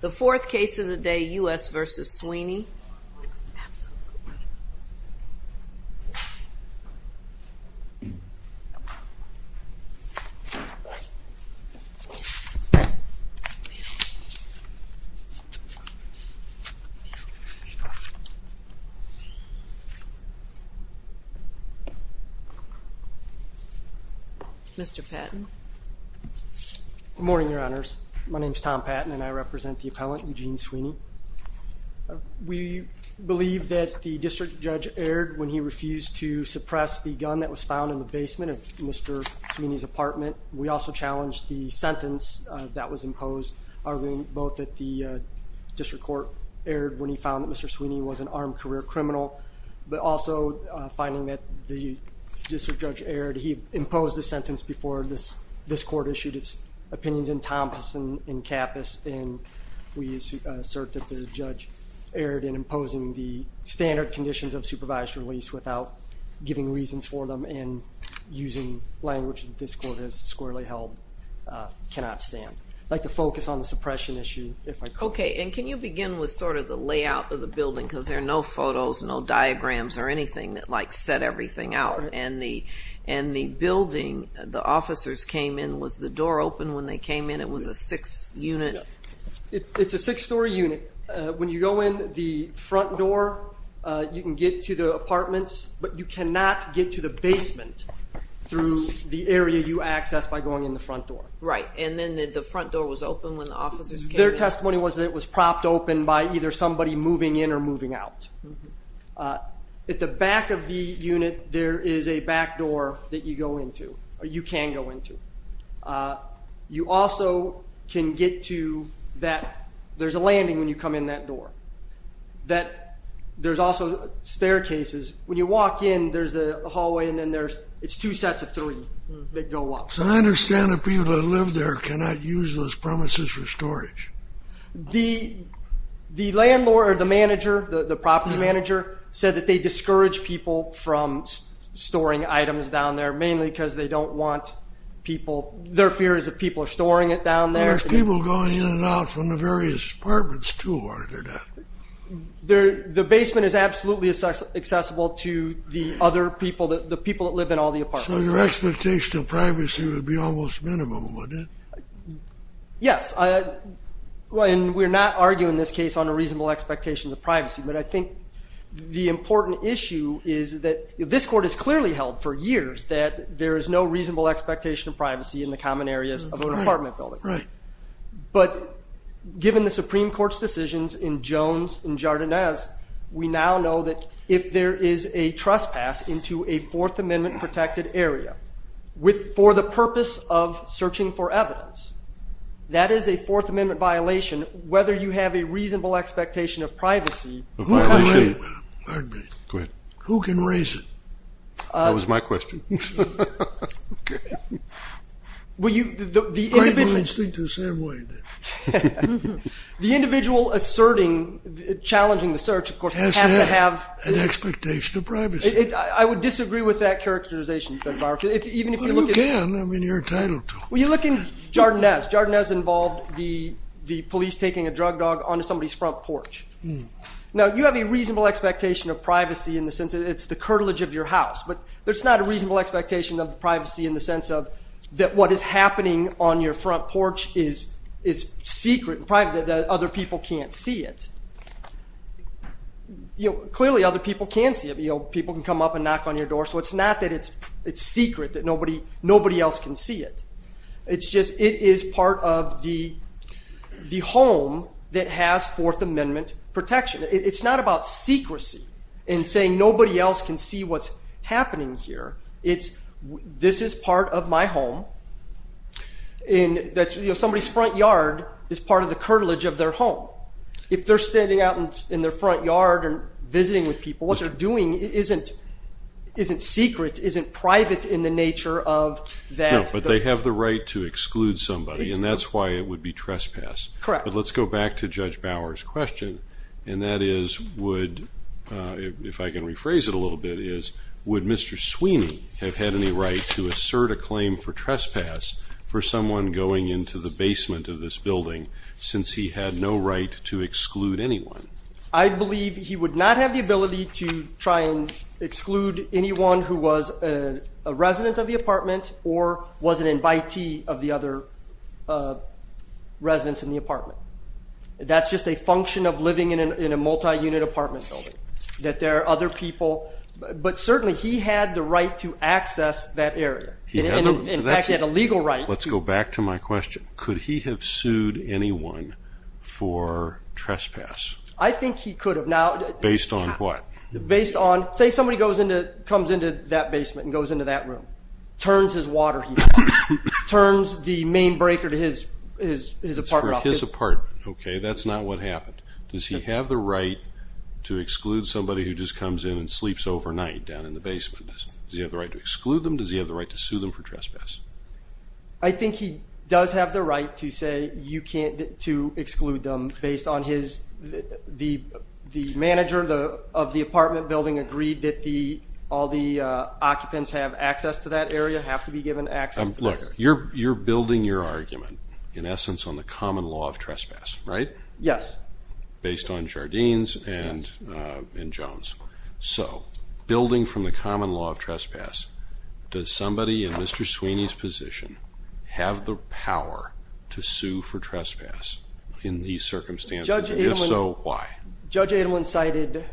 The fourth case of the day, U.S. v. Sweeney. Mr. Patton Good morning, Your Honors. My name is Tom Patton and I represent the appellant, Eugene Sweeney. We believe that the district judge erred when he refused to suppress the gun that was found in the basement of Mr. Sweeney's apartment. We also challenge the sentence that was imposed, arguing both that the district court erred when he found that Mr. Sweeney was an armed career criminal, but also finding that the district judge erred. He imposed the sentence before this court issued its opinions in Thomson and Kappus, and we assert that the judge erred in imposing the standard conditions of supervised release without giving reasons for them and using language that this court has squarely held cannot stand. I'd like to focus on the suppression issue, if I could. Okay, and can you begin with sort of the layout of the building, because there are no photos, no diagrams or anything that, like, set everything out. And the building, the officers came in, was the door open when they came in? It was a six-unit? It's a six-story unit. When you go in the front door, you can get to the apartments, but you cannot get to the basement through the area you access by going in the front door. Right, and then the front door was open when the officers came in? Their testimony was that it was propped open by either somebody moving in or moving out. At the back of the unit, there is a back door that you go into, or you can go into. You also can get to that – there's a landing when you come in that door. That – there's also staircases. When you walk in, there's a hallway, and then there's – it's two sets of three that go up. So I understand that people that live there cannot use those premises for storage. The landlord or the manager, the property manager, said that they discourage people from storing items down there, mainly because they don't want people – their fear is that people are storing it down there. There's people going in and out from the various apartments, too, are there not? The basement is absolutely accessible to the other people, the people that live in all the apartments. So your expectation of privacy would be almost minimum, would it? Yes, and we're not arguing in this case on a reasonable expectation of privacy, but I think the important issue is that this court has clearly held for years that there is no reasonable expectation of privacy in the common areas of an apartment building. Right. But given the Supreme Court's decisions in Jones and Jardinez, we now know that if there is a trespass into a Fourth Amendment-protected area for the purpose of searching for evidence, that is a Fourth Amendment violation. Whether you have a reasonable expectation of privacy – A violation? Pardon me. Go ahead. Who can raise it? That was my question. Okay. Well, you – the individual – I didn't mean to speak the same way, did I? The individual asserting, challenging the search, of course, has to have – Has to have an expectation of privacy. I would disagree with that characterization, Judge Barofsky, even if you look at – Well, you can. I mean, you're entitled to. Well, you look in Jardinez. Jardinez involved the police taking a drug dog onto somebody's front porch. Now, you have a reasonable expectation of privacy in the sense that it's the curtilage of your house, but there's not a reasonable expectation of privacy in the sense of that what is happening on your front porch is secret and private, that other people can't see it. You know, clearly other people can see it. You know, people can come up and knock on your door. So it's not that it's secret, that nobody else can see it. It's just it is part of the home that has Fourth Amendment protection. It's not about secrecy and saying nobody else can see what's happening here. It's this is part of my home and that somebody's front yard is part of the curtilage of their home. If they're standing out in their front yard and visiting with people, what they're doing isn't secret, isn't private in the nature of that – No, but they have the right to exclude somebody, and that's why it would be trespass. Correct. But let's go back to Judge Bower's question, and that is would – have had any right to assert a claim for trespass for someone going into the basement of this building since he had no right to exclude anyone? I believe he would not have the ability to try and exclude anyone who was a resident of the apartment or was an invitee of the other residents in the apartment. That's just a function of living in a multi-unit apartment building, that there are other people. But certainly he had the right to access that area. He had a legal right. Let's go back to my question. Could he have sued anyone for trespass? I think he could have. Based on what? Based on, say somebody comes into that basement and goes into that room, turns his water heater off, turns the main breaker to his apartment off. For his apartment, okay. That's not what happened. Does he have the right to exclude somebody who just comes in and sleeps overnight down in the basement? Does he have the right to exclude them? Does he have the right to sue them for trespass? I think he does have the right to say you can't – to exclude them based on his – the manager of the apartment building agreed that the – all the occupants have access to that area, have to be given access to that area. You're building your argument, in essence, on the common law of trespass, right? Yes. Based on Jardines and Jones. So, building from the common law of trespass, does somebody in Mr. Sweeney's position have the power to sue for trespass in these circumstances, and if so, why? Judge Edelman cited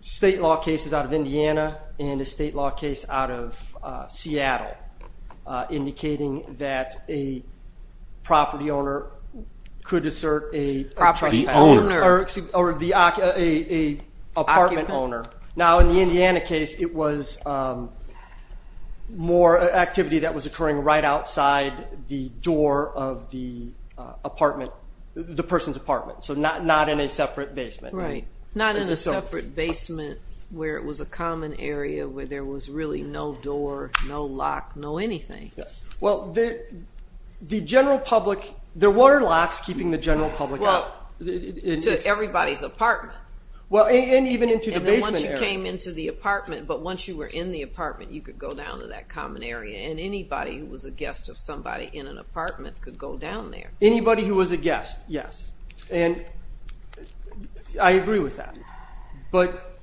state law cases out of Indiana and a state law case out of Seattle indicating that a property owner could assert a – Property owner. Or the – a apartment owner. Now, in the Indiana case, it was more activity that was occurring right outside the door of the apartment – the person's apartment, so not in a separate basement. Right. Not in a separate basement where it was a common area where there was really no door, no lock, no anything. Yes. Well, the general public – there were locks keeping the general public out. Well, to everybody's apartment. Well, and even into the basement area. And then once you came into the apartment, but once you were in the apartment, you could go down to that common area, and anybody who was a guest of somebody in an apartment could go down there. Anybody who was a guest, yes. And I agree with that, but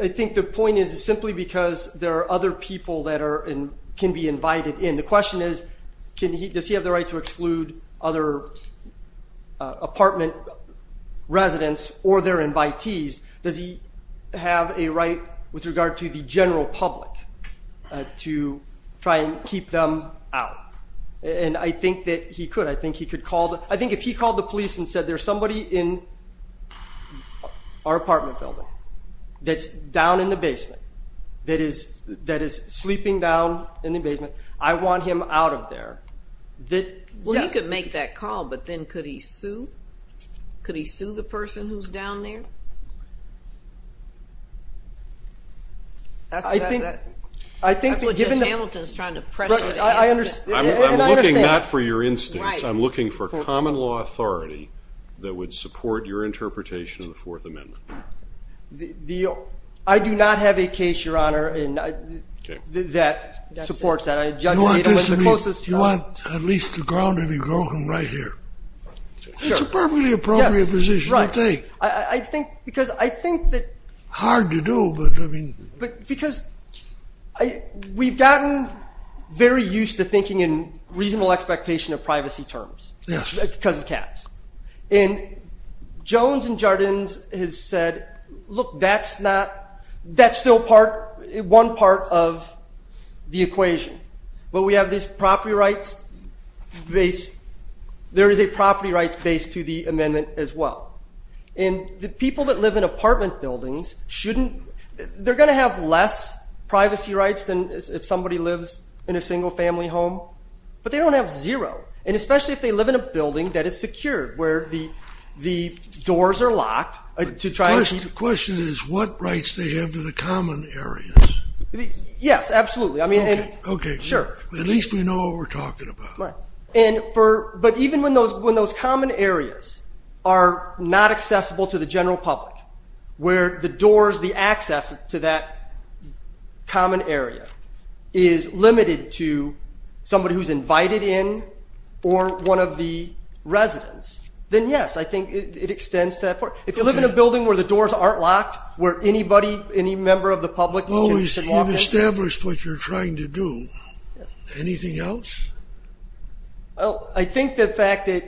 I think the point is simply because there are other people that are – and can be invited in. The question is, can he – does he have the right to exclude other apartment residents or their invitees? Does he have a right with regard to the general public to try and keep them out? And I think that he could. I think he could call the – I think if he called the police and said there's somebody in our apartment building that's down in the basement, that is sleeping down in the basement, I want him out of there, that – Well, he could make that call, but then could he sue? Could he sue the person who's down there? That's what Judge Hamilton is trying to press for the case. I understand. I'm looking not for your instincts. I'm looking for common law authority that would support your interpretation of the Fourth Amendment. I do not have a case, Your Honor, that supports that. You want at least the ground to be broken right here. It's a perfectly appropriate position to take. I think because I think that – Hard to do, but I mean – Because we've gotten very used to thinking in reasonable expectation of privacy terms because of caps. And Jones and Jardins has said, look, that's not – that's still part – one part of the equation. But we have these property rights – there is a property rights base to the amendment as well. And the people that live in apartment buildings shouldn't – they're going to have less privacy rights than if somebody lives in a single family home. But they don't have zero. And especially if they live in a building that is secured, where the doors are locked to try and keep – The question is what rights they have to the common areas. Yes, absolutely. I mean – Okay. Sure. At least we know what we're talking about. Right. And for – but even when those common areas are not accessible to the general public, where the doors, the access to that common area is limited to somebody who's invited in or one of the residents, then yes, I think it extends to that part. If you live in a building where the doors aren't locked, where anybody, any member of the public can walk in – Oh, you've established what you're trying to do. Anything else? I think the fact that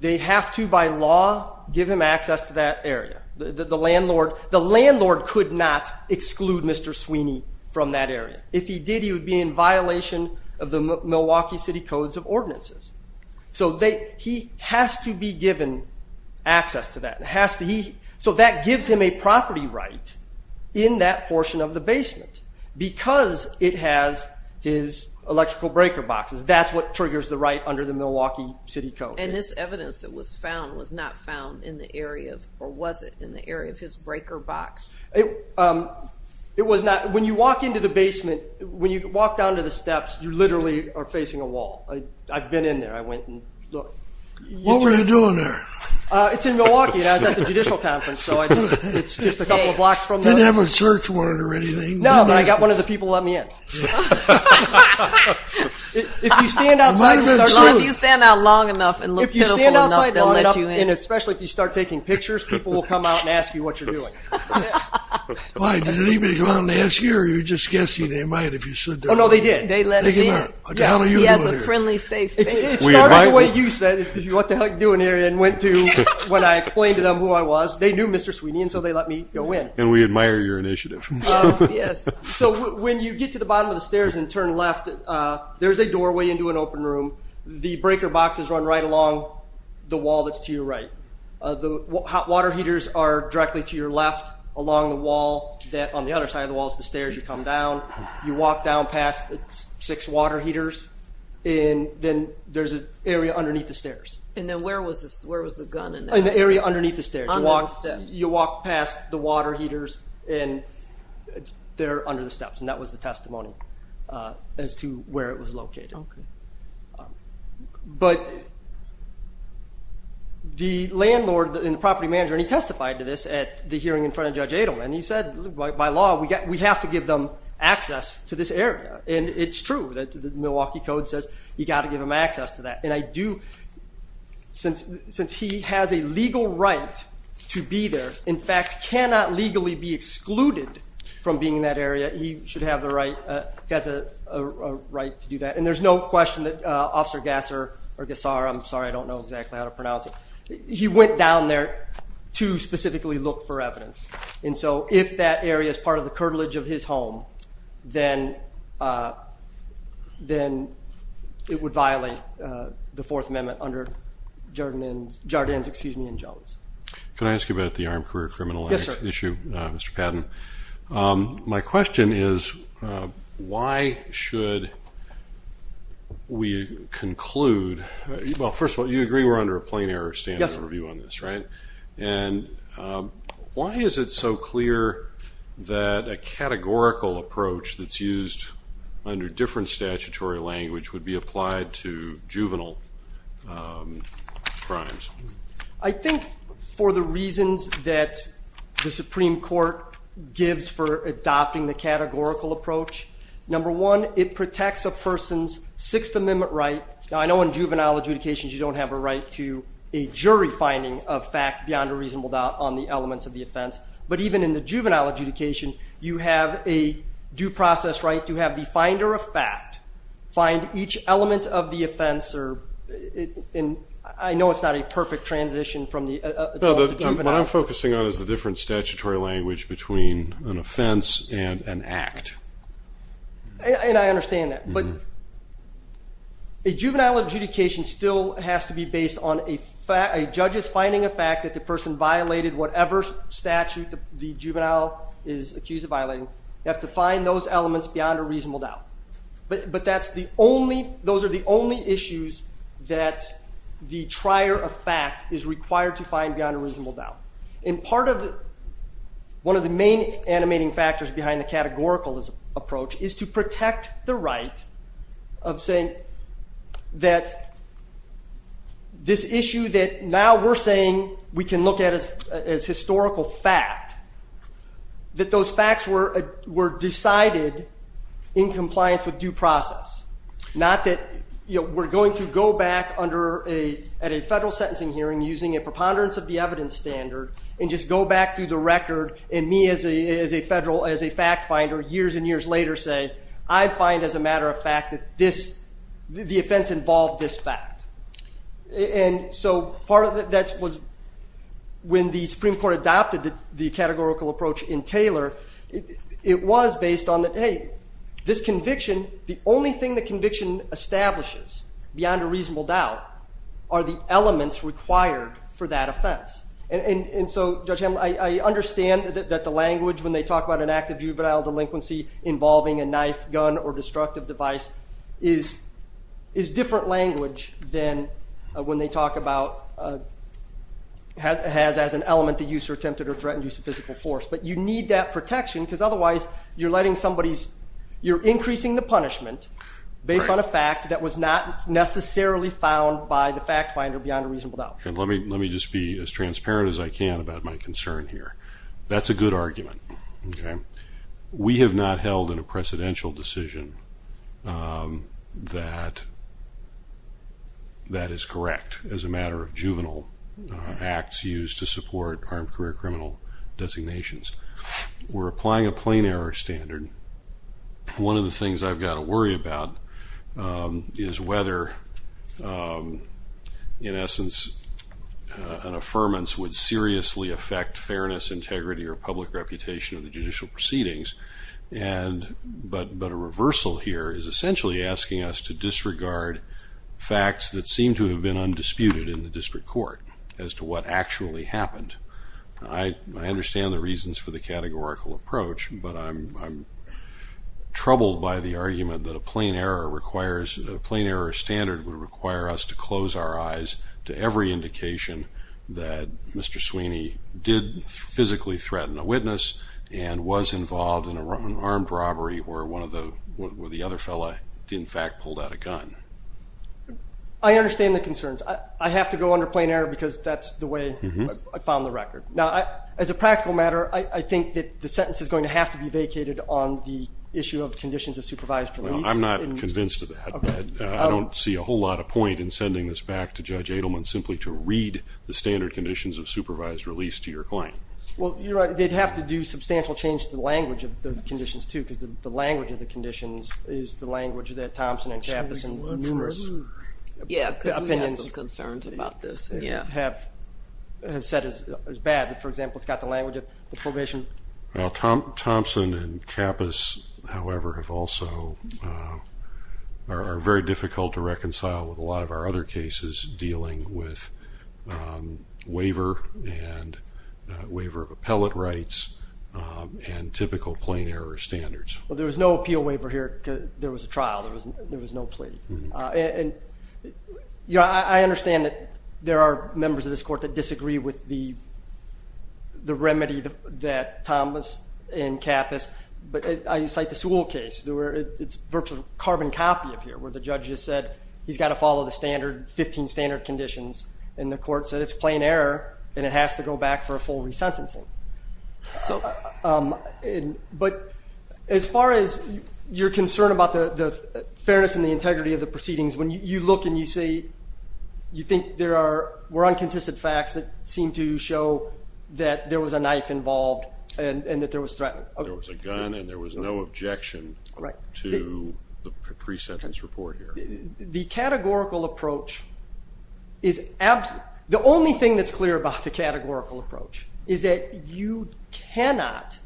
they have to, by law, give him access to that area. The landlord could not exclude Mr. Sweeney from that area. If he did, he would be in violation of the Milwaukee City Codes of Ordinances. So he has to be given access to that. So that gives him a property right in that portion of the basement because it has his electrical breaker boxes. That's what triggers the right under the Milwaukee City Code. And this evidence that was found was not found in the area of – or was it in the area of his breaker box? It was not – when you walk into the basement, when you walk down to the steps, you literally are facing a wall. I've been in there. I went and looked. What were you doing there? It's in Milwaukee and I was at the Judicial Conference, so it's just a couple of blocks from the – Didn't have a search warrant or anything? No, but I got one of the people to let me in. Yeah. If you stand outside and start – If you stand out long enough and look pitiful enough, they'll let you in. And especially if you start taking pictures, people will come out and ask you what you're doing. Why, did anybody come out and ask you or are you just guessing they might if you said they're – Oh, no, they did. They let him in. Like, how are you doing here? He has a friendly, safe – It started the way you said, what the hell are you doing here? And went to – when I explained to them who I was, they knew Mr. Sweeney and so they let me go in. And we admire your initiative. Yes. So when you get to the bottom of the stairs and turn left, there's a doorway into an open room. The breaker boxes run right along the wall that's to your right. The hot water heaters are directly to your left along the wall that – on the other side of the wall is the stairs. You come down. You walk down past the six water heaters and then there's an area underneath the stairs. And then where was the gun in that? In the area underneath the stairs. Under the steps. You walk past the water heaters and they're under the steps. And that was the testimony as to where it was located. Okay. But the landlord and the property manager, and he testified to this at the hearing in front of Judge Adelman. And he said, by law, we have to give them access to this area. And it's true. The Milwaukee Code says you've got to give them access to that. And I do – since he has a legal right to be there, in fact, cannot legally be excluded from being in that area, he should have the right – he has a right to do that. And there's no question that Officer Gasser – I'm sorry, I don't know exactly how to pronounce it. He went down there to specifically look for evidence. And so if that area is part of the curtilage of his home, then it would violate the Fourth Amendment under Jardins and Jones. Can I ask you about the armed career criminal act issue, Mr. Patton? Yes, sir. My question is, why should we conclude – well, first of all, you agree we're under a plain-error standard review on this, right? Yes. And why is it so clear that a categorical approach that's used under different statutory language would be applied to juvenile crimes? I think for the reasons that the Supreme Court gives for adopting the categorical approach, number one, it protects a person's Sixth Amendment right. Now, I know in juvenile adjudications you don't have a right to a jury finding of fact beyond a reasonable doubt on the elements of the offense. But even in the juvenile adjudication, you have a due process right to have the finder of fact find each element of the offense. And I know it's not a perfect transition from the adult to juvenile. What I'm focusing on is the different statutory language between an offense and an act. And I understand that. But a juvenile adjudication still has to be based on a judge's finding of fact that the person violated whatever statute the juvenile is accused of violating. You have to find those elements beyond a reasonable doubt. But that's the only – those are the only issues that the trier of fact is required to find beyond a reasonable doubt. And part of – one of the main animating factors behind the categorical approach is to protect the right of saying that this issue that now we're saying we can look at as historical fact, that those facts were decided in compliance with due process. Not that we're going to go back under a – at a federal sentencing hearing using a preponderance of the evidence standard and just go back through the record and me as a federal – as a fact finder years and years later say, I find as a matter of fact that this – the offense involved this fact. And so part of that was when the Supreme Court adopted the categorical approach in Taylor, it was based on that, hey, this conviction – the only thing the conviction establishes beyond a reasonable doubt are the elements required for that offense. And so, Judge Hamlin, I understand that the language when they talk about an act of juvenile delinquency involving a knife, gun, or destructive device is different language than when they talk about – has as an element the use or attempted or threatened use of physical force. But you need that protection because otherwise you're letting somebody's – you're increasing the punishment based on a fact that was not necessarily found by the fact finder beyond a reasonable doubt. Let me just be as transparent as I can about my concern here. That's a good argument. We have not held in a precedential decision that that is correct as a matter of juvenile acts used to support armed career criminal designations. We're applying a plain error standard. One of the things I've got to worry about is whether, in essence, an affirmance would seriously affect fairness, integrity, or public reputation of the judicial proceedings, but a reversal here is essentially asking us to disregard facts that seem to have been undisputed in the district court as to what actually happened. I understand the reasons for the categorical approach, but I'm troubled by the argument that a plain error standard would require us to close our eyes to every indication that Mr. Sweeney did physically threaten a witness and was involved in an armed robbery where the other fellow in fact pulled out a gun. I understand the concerns. I have to go under plain error because that's the way I found the record. Now, as a practical matter, I think that the sentence is going to have to be vacated on the issue of conditions of supervised release. I'm not convinced of that. I don't see a whole lot of point in sending this back to Judge Adelman simply to read the standard conditions of supervised release to your claim. Well, you're right. They'd have to do substantial change to the language of those conditions, too, because the language of the conditions is the language that Thompson and Kappus and numerous opinions have said is bad. For example, it's got the language of the probation. Thompson and Kappus, however, are very difficult to reconcile with a lot of our other cases dealing with waiver and waiver of appellate rights and typical plain error standards. Well, there was no appeal waiver here because there was a trial. There was no plea. And I understand that there are members of this court that disagree with the remedy that Thompson and Kappus, but I cite the Sewell case. It's a virtual carbon copy up here where the judge has said he's got to follow the standard, 15 standard conditions, and the court said it's plain error and it has to go back for a full resentencing. But as far as your concern about the fairness and the integrity of the proceedings, when you look and you think there were unconsistent facts that seemed to show that there was a knife involved and that there was threat. There was a gun and there was no objection to the pre-sentence report here. The categorical approach is absent. The only thing that's clear about the categorical approach is that you cannot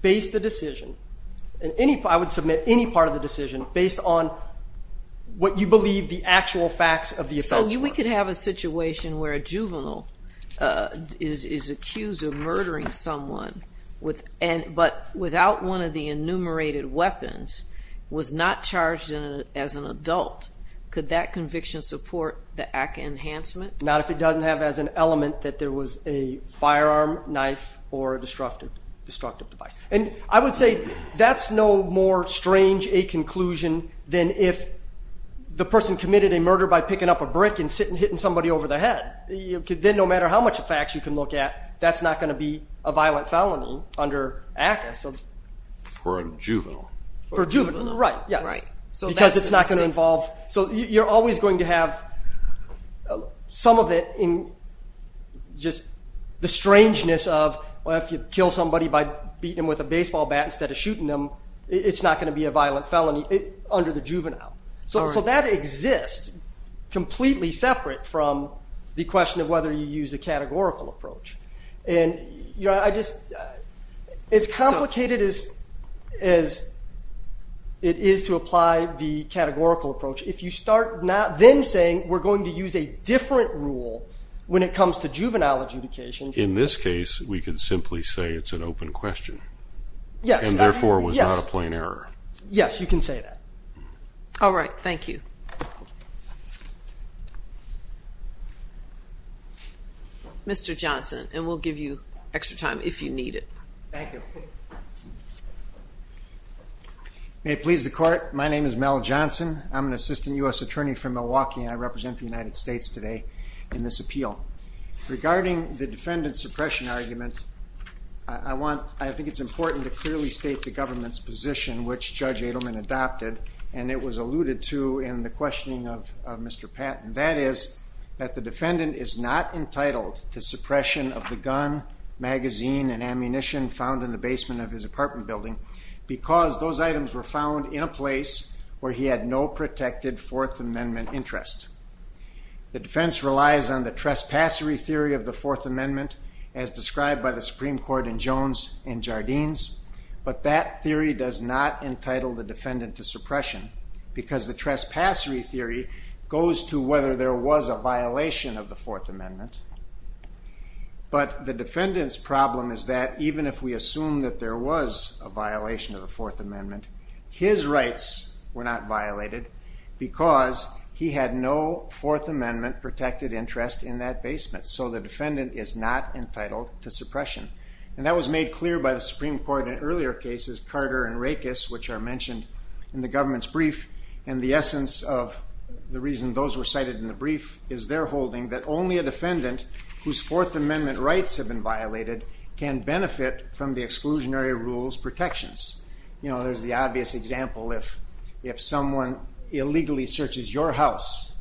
base the decision, and I would submit any part of the decision, based on what you believe the actual facts of the offense were. So we could have a situation where a juvenile is accused of murdering someone, but without one of the enumerated weapons, was not charged as an adult. Could that conviction support the ACCA enhancement? Not if it doesn't have as an element that there was a firearm, knife, or a destructive device. And I would say that's no more strange a conclusion than if the person committed a murder by picking up a brick and hitting somebody over the head. Then no matter how much of facts you can look at, that's not going to be a violent felony under ACCA. For a juvenile. For a juvenile, right, yes. Because it's not going to involve – so you're always going to have some of it in just the strangeness of, well, if you kill somebody by beating them with a baseball bat instead of shooting them, it's not going to be a violent felony under the juvenile. So that exists completely separate from the question of whether you use a categorical approach. And as complicated as it is to apply the categorical approach, if you start then saying we're going to use a different rule when it comes to juvenile adjudication. In this case, we can simply say it's an open question. Yes. And therefore, it was not a plain error. Yes, you can say that. All right, thank you. Mr. Johnson, and we'll give you extra time if you need it. Thank you. May it please the Court, my name is Mel Johnson. I'm an assistant U.S. attorney from Milwaukee, and I represent the United States today in this appeal. Regarding the defendant's suppression argument, I think it's important to clearly state the government's position, which Judge Adelman adopted, and it was alluded to in the questioning of Mr. Patton. That is that the defendant is not entitled to suppression of the gun, magazine, and ammunition found in the basement of his apartment building because those items were found in a place where he had no protected Fourth Amendment interest. The defense relies on the trespassory theory of the Fourth Amendment, as described by the Supreme Court in Jones and Jardines, but that theory does not entitle the defendant to suppression because the trespassory theory goes to whether there was a violation of the Fourth Amendment. But the defendant's problem is that even if we assume that there was a violation of the Fourth Amendment, his rights were not violated because he had no Fourth Amendment protected interest in that basement, so the defendant is not entitled to suppression. And that was made clear by the Supreme Court in earlier cases, Carter and Rakes, which are mentioned in the government's brief, and the essence of the reason those were cited in the brief is their holding that only a defendant whose Fourth Amendment rights have been violated can benefit from the exclusionary rules protections. You know, there's the obvious example. If someone illegally searches your house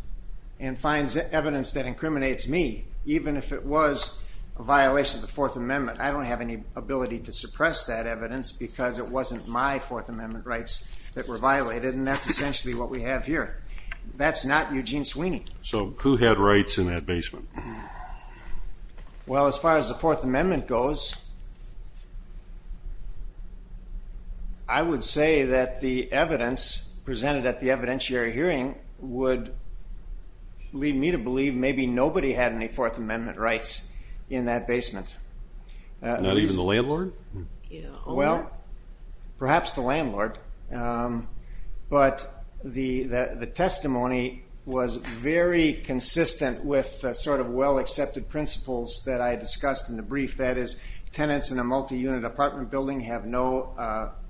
and finds evidence that incriminates me, even if it was a violation of the Fourth Amendment, I don't have any ability to suppress that evidence because it wasn't my Fourth Amendment rights that were violated, and that's essentially what we have here. That's not Eugene Sweeney. So who had rights in that basement? Well, as far as the Fourth Amendment goes, I would say that the evidence presented at the evidentiary hearing would lead me to believe maybe nobody had any Fourth Amendment rights in that basement. Not even the landlord? Well, perhaps the landlord, but the testimony was very consistent with sort of well-accepted principles that I discussed in the brief. That is, tenants in a multi-unit apartment building have no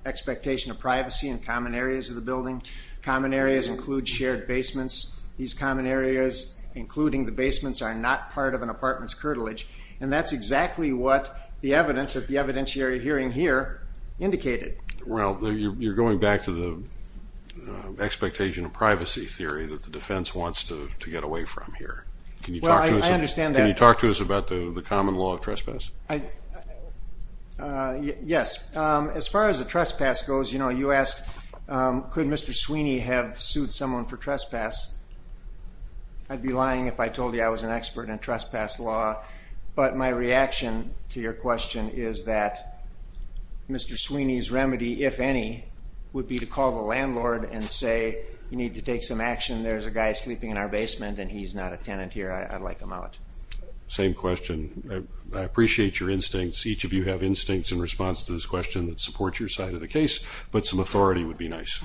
expectation of privacy in common areas of the building. Common areas include shared basements. These common areas, including the basements, are not part of an apartment's curtilage, and that's exactly what the evidence at the evidentiary hearing here indicated. Well, you're going back to the expectation of privacy theory that the defense wants to get away from here. Can you talk to us about the common law of trespass? Yes. As far as the trespass goes, you know, you asked could Mr. Sweeney have sued someone for trespass. I'd be lying if I told you I was an expert in trespass law, but my reaction to your question is that Mr. Sweeney's remedy, if any, would be to call the landlord and say you need to take some action. There's a guy sleeping in our basement, and he's not a tenant here. I'd like him out. Same question. I appreciate your instincts. Each of you have instincts in response to this question that support your side of the case, but some authority would be nice.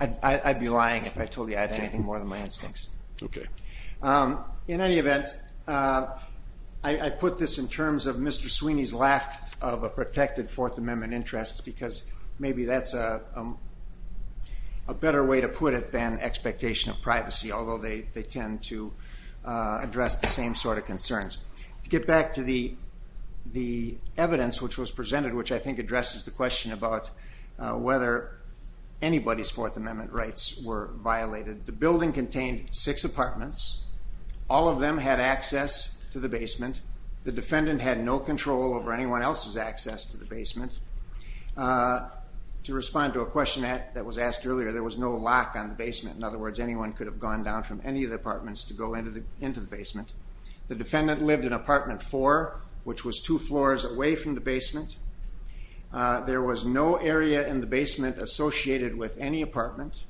I'd be lying if I told you I had anything more than my instincts. Okay. In any event, I put this in terms of Mr. Sweeney's lack of a protected Fourth Amendment interest because maybe that's a better way to put it than expectation of privacy, although they tend to address the same sort of concerns. To get back to the evidence which was presented, which I think addresses the question about whether anybody's Fourth Amendment rights were violated, the building contained six apartments. All of them had access to the basement. The defendant had no control over anyone else's access to the basement. To respond to a question that was asked earlier, there was no lock on the basement. In other words, anyone could have gone down from any of the apartments to go into the basement. The defendant lived in apartment four, which was two floors away from the basement. There was no area in the basement associated with any apartment,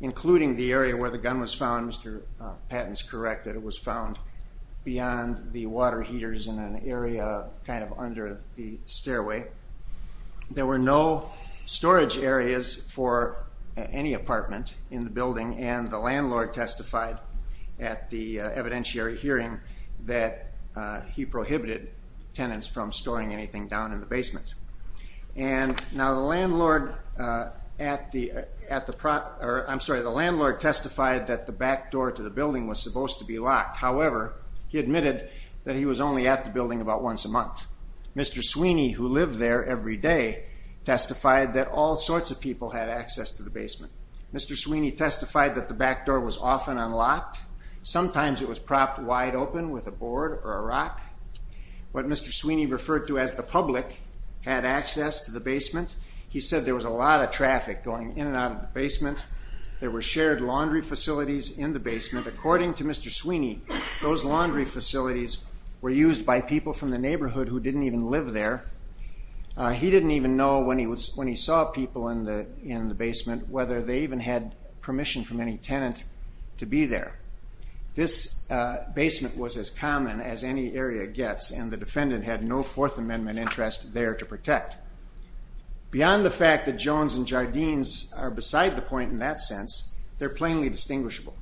including the area where the gun was found. Mr. Patton's correct that it was found beyond the water heaters in an area kind of under the stairway. There were no storage areas for any apartment in the building, and the landlord testified at the evidentiary hearing that he prohibited tenants from storing anything down in the basement. The landlord testified that the back door to the building was supposed to be locked. However, he admitted that he was only at the building about once a month. Mr. Sweeney, who lived there every day, testified that all sorts of people had access to the basement. Mr. Sweeney testified that the back door was often unlocked. Sometimes it was propped wide open with a board or a rock. What Mr. Sweeney referred to as the public had access to the basement. He said there was a lot of traffic going in and out of the basement. There were shared laundry facilities in the basement. According to Mr. Sweeney, those laundry facilities were used by people from the neighborhood who didn't even live there. He didn't even know when he saw people in the basement whether they even had permission from any tenant to be there. This basement was as common as any area gets, and the defendant had no Fourth Amendment interest there to protect. Beyond the fact that Jones and Jardines are beside the point in that sense, they're plainly distinguishable.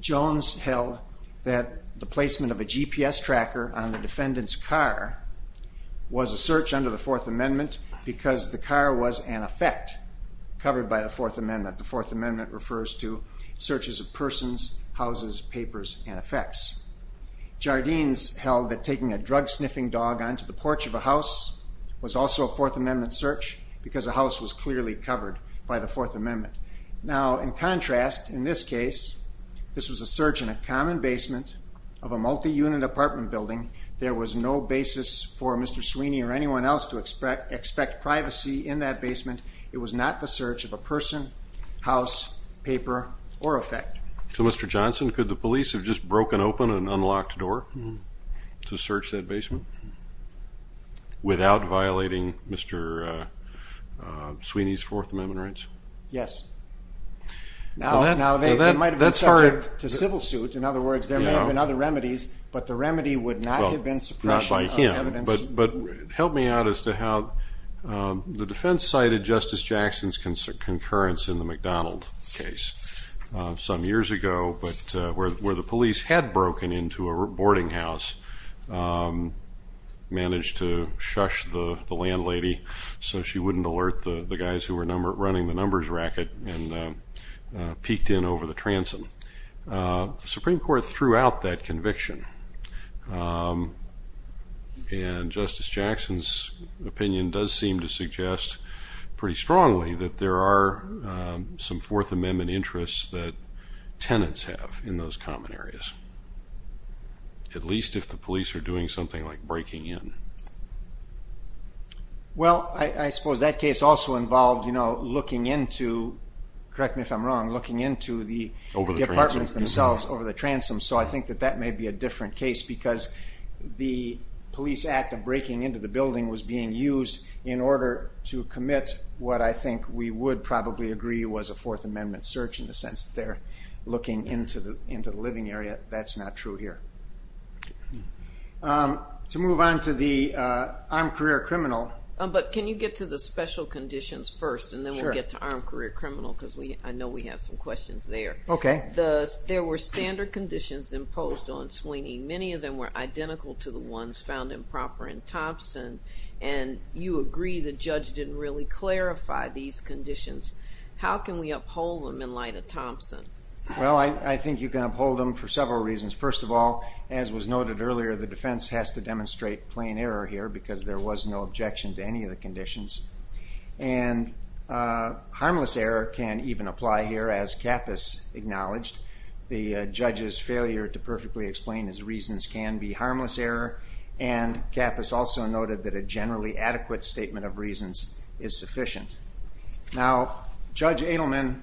Jones held that the placement of a GPS tracker on the defendant's car was a search under the Fourth Amendment because the car was, in effect, covered by the Fourth Amendment. The Fourth Amendment refers to searches of persons, houses, papers, and effects. Jardines held that taking a drug-sniffing dog onto the porch of a house was also a Fourth Amendment search because the house was clearly covered by the Fourth Amendment. Now, in contrast, in this case, this was a search in a common basement of a multi-unit apartment building. There was no basis for Mr. Sweeney or anyone else to expect privacy in that basement. It was not the search of a person, house, paper, or effect. So, Mr. Johnson, could the police have just broken open an unlocked door to search that basement without violating Mr. Sweeney's Fourth Amendment rights? Yes. Now, they might have been subject to civil suit. In other words, there may have been other remedies, but the remedy would not have been suppression of evidence. Well, not by him. But help me out as to how the defense cited Justice Jackson's concurrence in the McDonald case some years ago where the police had broken into a boarding house, managed to shush the landlady so she wouldn't alert the guys who were running the numbers racket and peeked in over the transom. The Supreme Court threw out that conviction. And Justice Jackson's opinion does seem to suggest pretty strongly that there are some Fourth Amendment interests that tenants have in those common areas, at least if the police are doing something like breaking in. Well, I suppose that case also involved looking into, correct me if I'm wrong, looking into the departments themselves over the transoms. So I think that that may be a different case because the police act of breaking into the building was being used in order to commit what I think we would probably agree was a Fourth Amendment search in the sense that they're looking into the living area. That's not true here. To move on to the armed career criminal. But can you get to the special conditions first, and then we'll get to armed career criminal because I know we have some questions there. Okay. There were standard conditions imposed on Sweeney. Many of them were identical to the ones found improper in Thompson. And you agree the judge didn't really clarify these conditions. How can we uphold them in light of Thompson? Well, I think you can uphold them for several reasons. First of all, as was noted earlier, the defense has to demonstrate plain error here because there was no objection to any of the conditions. And harmless error can even apply here, as Kappus acknowledged. The judge's failure to perfectly explain his reasons can be harmless error, and Kappus also noted that a generally adequate statement of reasons is sufficient. Now, Judge Adelman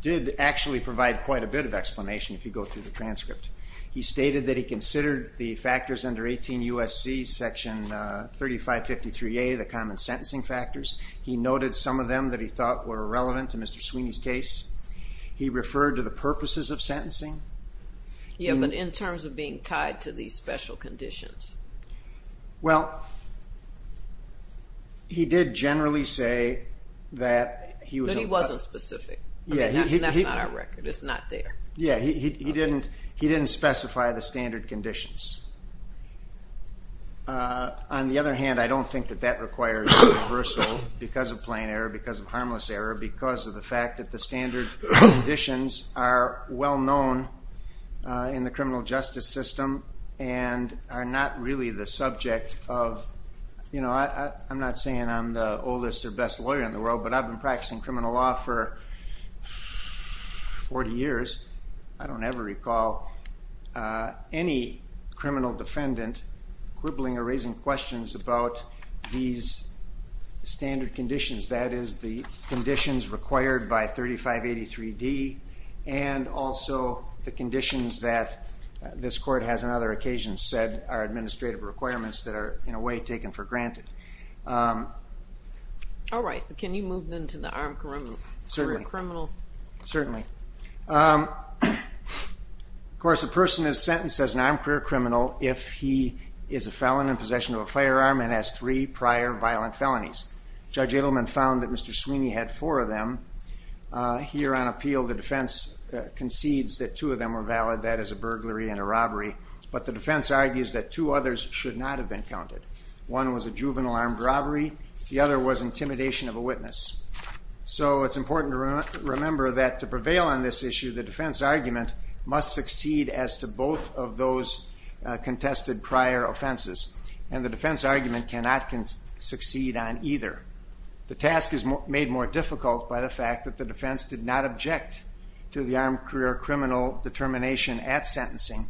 did actually provide quite a bit of explanation if you go through the transcript. He stated that he considered the factors under 18 U.S.C. section 3553A, the common sentencing factors. He noted some of them that he thought were relevant to Mr. Sweeney's case. He referred to the purposes of sentencing. Yeah, but in terms of being tied to these special conditions. Well, he did generally say that he was on purpose. But he wasn't specific. Yeah. That's not our record. It's not there. Yeah, he didn't specify the standard conditions. On the other hand, I don't think that that requires reversal because of plain error, because of harmless error, because of the fact that the standard conditions are well known in the criminal justice system and are not really the subject of, you know, I'm not saying I'm the oldest or best lawyer in the world, but I've been practicing criminal law for 40 years. I don't ever recall any criminal defendant quibbling or raising questions about these standard conditions, that is the conditions required by 3583D and also the conditions that this court has on other occasions said are administrative requirements that are, in a way, taken for granted. All right. Can you move then to the armed career criminal? Certainly. Certainly. Of course, a person is sentenced as an armed career criminal if he is a felon in possession of a firearm and has three prior violent felonies. Judge Edelman found that Mr. Sweeney had four of them. Here on appeal, the defense concedes that two of them are valid. That is a burglary and a robbery. But the defense argues that two others should not have been counted. One was a juvenile armed robbery. The other was intimidation of a witness. So it's important to remember that to prevail on this issue, the defense argument must succeed as to both of those contested prior offenses, and the defense argument cannot succeed on either. The task is made more difficult by the fact that the defense did not object to the armed career criminal determination at sentencing.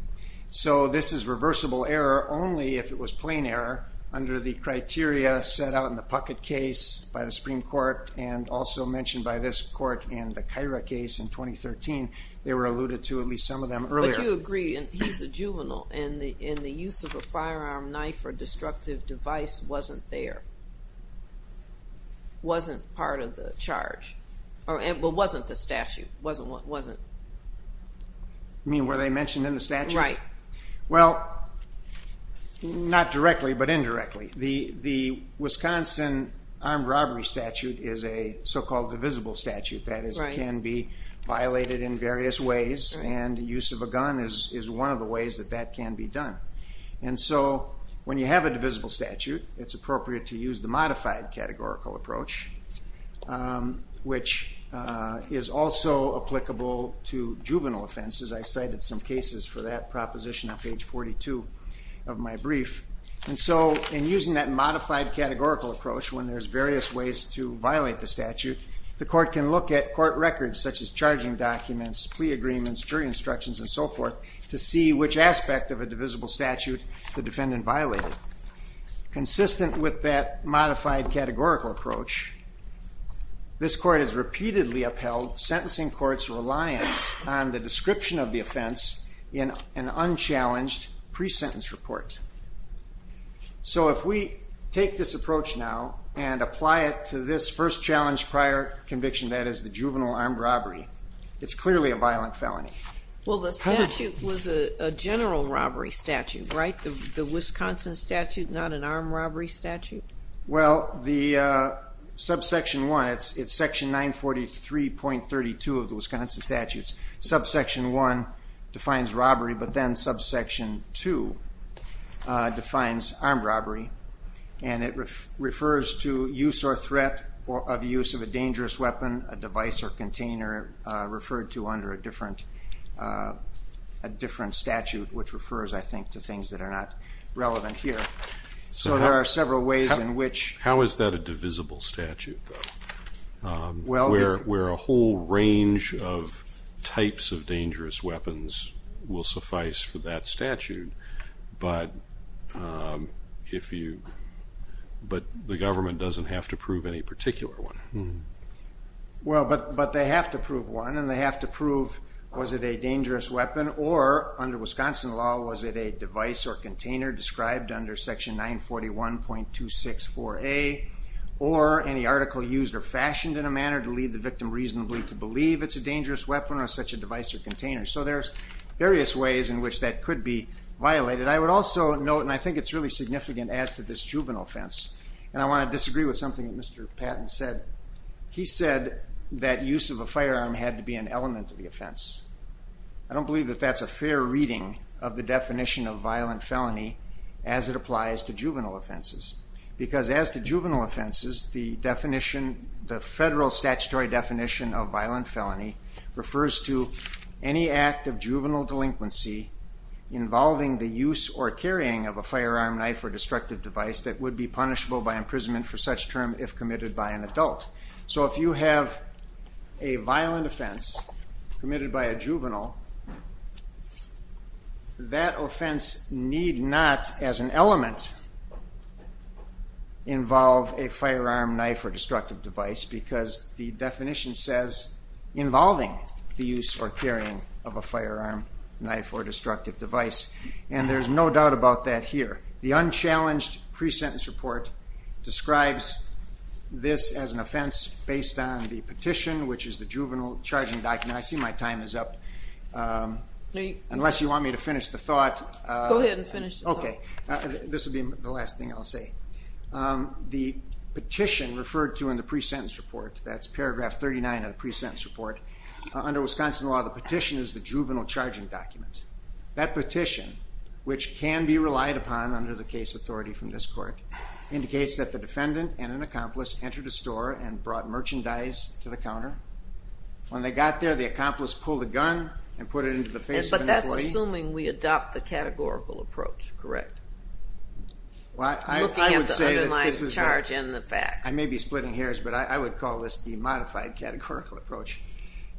So this is reversible error only if it was plain error under the criteria set out in the Puckett case by the Supreme Court and also mentioned by this court in the Kyra case in 2013. They were alluded to, at least some of them, earlier. But you agree, and he's a juvenile, and the use of a firearm, knife, or destructive device wasn't there, wasn't part of the charge, well, wasn't the statute, wasn't. You mean where they mentioned in the statute? Right. Well, not directly, but indirectly. The Wisconsin armed robbery statute is a so-called divisible statute. That is, it can be violated in various ways, and the use of a gun is one of the ways that that can be done. And so when you have a divisible statute, it's appropriate to use the modified categorical approach, which is also applicable to juvenile offenses. I cited some cases for that proposition on page 42 of my brief. And so in using that modified categorical approach, when there's various ways to violate the statute, the court can look at court records such as charging documents, plea agreements, jury instructions, and so forth, to see which aspect of a divisible statute the defendant violated. Consistent with that modified categorical approach, this court has repeatedly upheld sentencing courts' reliance on the description of the offense in an unchallenged pre-sentence report. So if we take this approach now and apply it to this first challenge prior conviction, that is the juvenile armed robbery, it's clearly a violent felony. Well, the statute was a general robbery statute, right? The Wisconsin statute, not an armed robbery statute? Well, the subsection 1, it's section 943.32 of the Wisconsin statutes. Subsection 1 defines robbery, but then subsection 2 defines armed robbery, and it refers to use or threat of use of a dangerous weapon, a device or container referred to under a different statute, which refers, I think, to things that are not relevant here. So there are several ways in which... How is that a divisible statute, though, where a whole range of types of dangerous weapons will suffice for that statute, but the government doesn't have to prove any particular one? Well, but they have to prove one, and they have to prove was it a dangerous weapon, or under Wisconsin law, was it a device or container described under section 941.264A, or any article used or fashioned in a manner to lead the victim reasonably to believe it's a dangerous weapon or such a device or container. So there's various ways in which that could be violated. I would also note, and I think it's really significant as to this juvenile offense, and I want to disagree with something that Mr. Patton said. He said that use of a firearm had to be an element of the offense. I don't believe that that's a fair reading of the definition of violent felony as it applies to juvenile offenses, because as to juvenile offenses, the federal statutory definition of violent felony refers to any act of juvenile delinquency involving the use or carrying of a firearm, knife, or destructive device that would be punishable by imprisonment for such term if committed by an adult. So if you have a violent offense committed by a juvenile, that offense need not, as an element, involve a firearm, knife, or destructive device because the definition says involving the use or carrying of a firearm, knife, or destructive device, and there's no doubt about that here. The unchallenged pre-sentence report describes this as an offense based on the petition, which is the juvenile charging document. I see my time is up. Unless you want me to finish the thought. Go ahead and finish the thought. This will be the last thing I'll say. The petition referred to in the pre-sentence report, that's paragraph 39 of the pre-sentence report, under Wisconsin law, the petition is the juvenile charging document. That petition, which can be relied upon under the case authority from this court, indicates that the defendant and an accomplice entered a store and brought merchandise to the counter. When they got there, the accomplice pulled a gun and put it into the face of an employee. But that's assuming we adopt the categorical approach, correct? Looking at the underlying charge and the facts. I may be splitting hairs, but I would call this the modified categorical approach.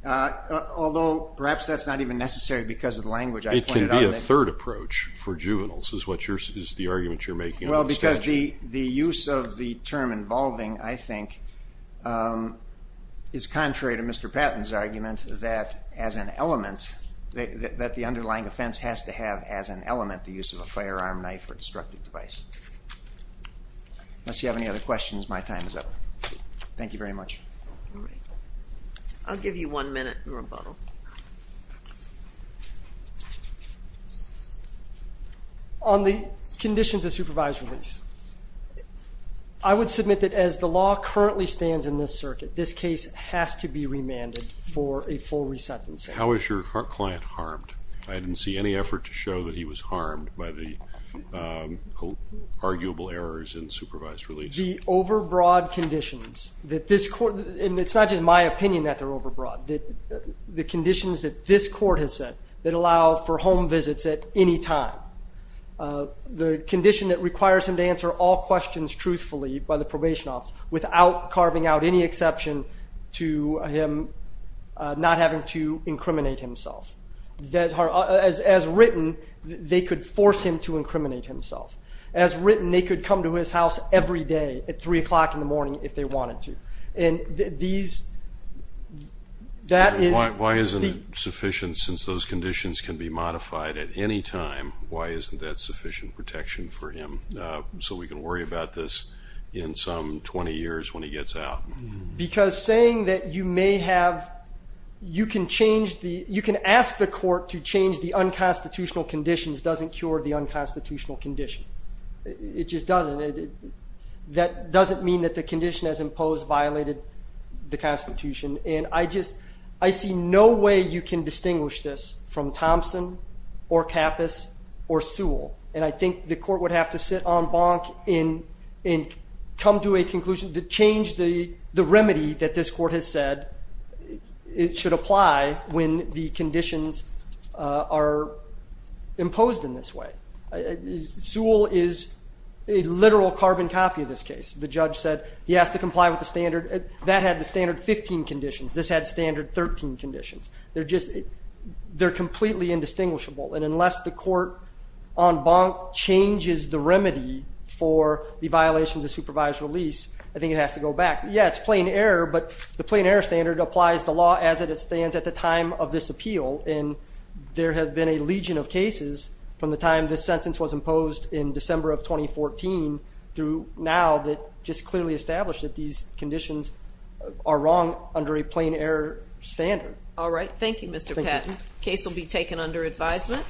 Although perhaps that's not even necessary because of the language I pointed out. It can be a third approach for juveniles, is the argument you're making. Well, because the use of the term involving, I think, is contrary to Mr. Patton's argument that as an element, that the underlying offense has to have as an element the use of a firearm, knife, or destructive device. Unless you have any other questions, my time is up. Thank you very much. I'll give you one minute in rebuttal. On the conditions of supervised release, I would submit that as the law currently stands in this circuit, this case has to be remanded for a full resentence. How is your client harmed? I didn't see any effort to show that he was harmed by the arguable errors in supervised release. The overbroad conditions that this court... And it's not just my opinion that they're overbroad. The conditions that this court has set that allow for home visits at any time. The condition that requires him to answer all questions truthfully by the probation office without carving out any exception to him not having to incriminate himself. As written, they could force him to incriminate himself. As written, they could come to his house every day at 3 o'clock in the morning if they wanted to. Why isn't it sufficient since those conditions can be modified at any time? Why isn't that sufficient protection for him so we can worry about this in some 20 years when he gets out? Because saying that you may have... You can ask the court to change the unconstitutional conditions doesn't cure the unconstitutional condition. It just doesn't. That doesn't mean that the condition as imposed violated the Constitution. And I see no way you can distinguish this from Thompson or Kappus or Sewell. And I think the court would have to sit on bonk and come to a conclusion to change the remedy that this court has said it should apply when the conditions are imposed in this way. Sewell is a literal carbon copy of this case. The judge said he has to comply with the standard. That had the standard 15 conditions. This had standard 13 conditions. They're completely indistinguishable. And unless the court on bonk changes the remedy for the violations of supervised release, I think it has to go back. Yeah, it's plain error, but the plain error standard applies the law as it stands at the time of this appeal. And there have been a legion of cases from the time this sentence was imposed in December of 2014 through now that just clearly established that these conditions are wrong under a plain error standard. All right. Thank you, Mr. Patton. The case will be taken under advisement.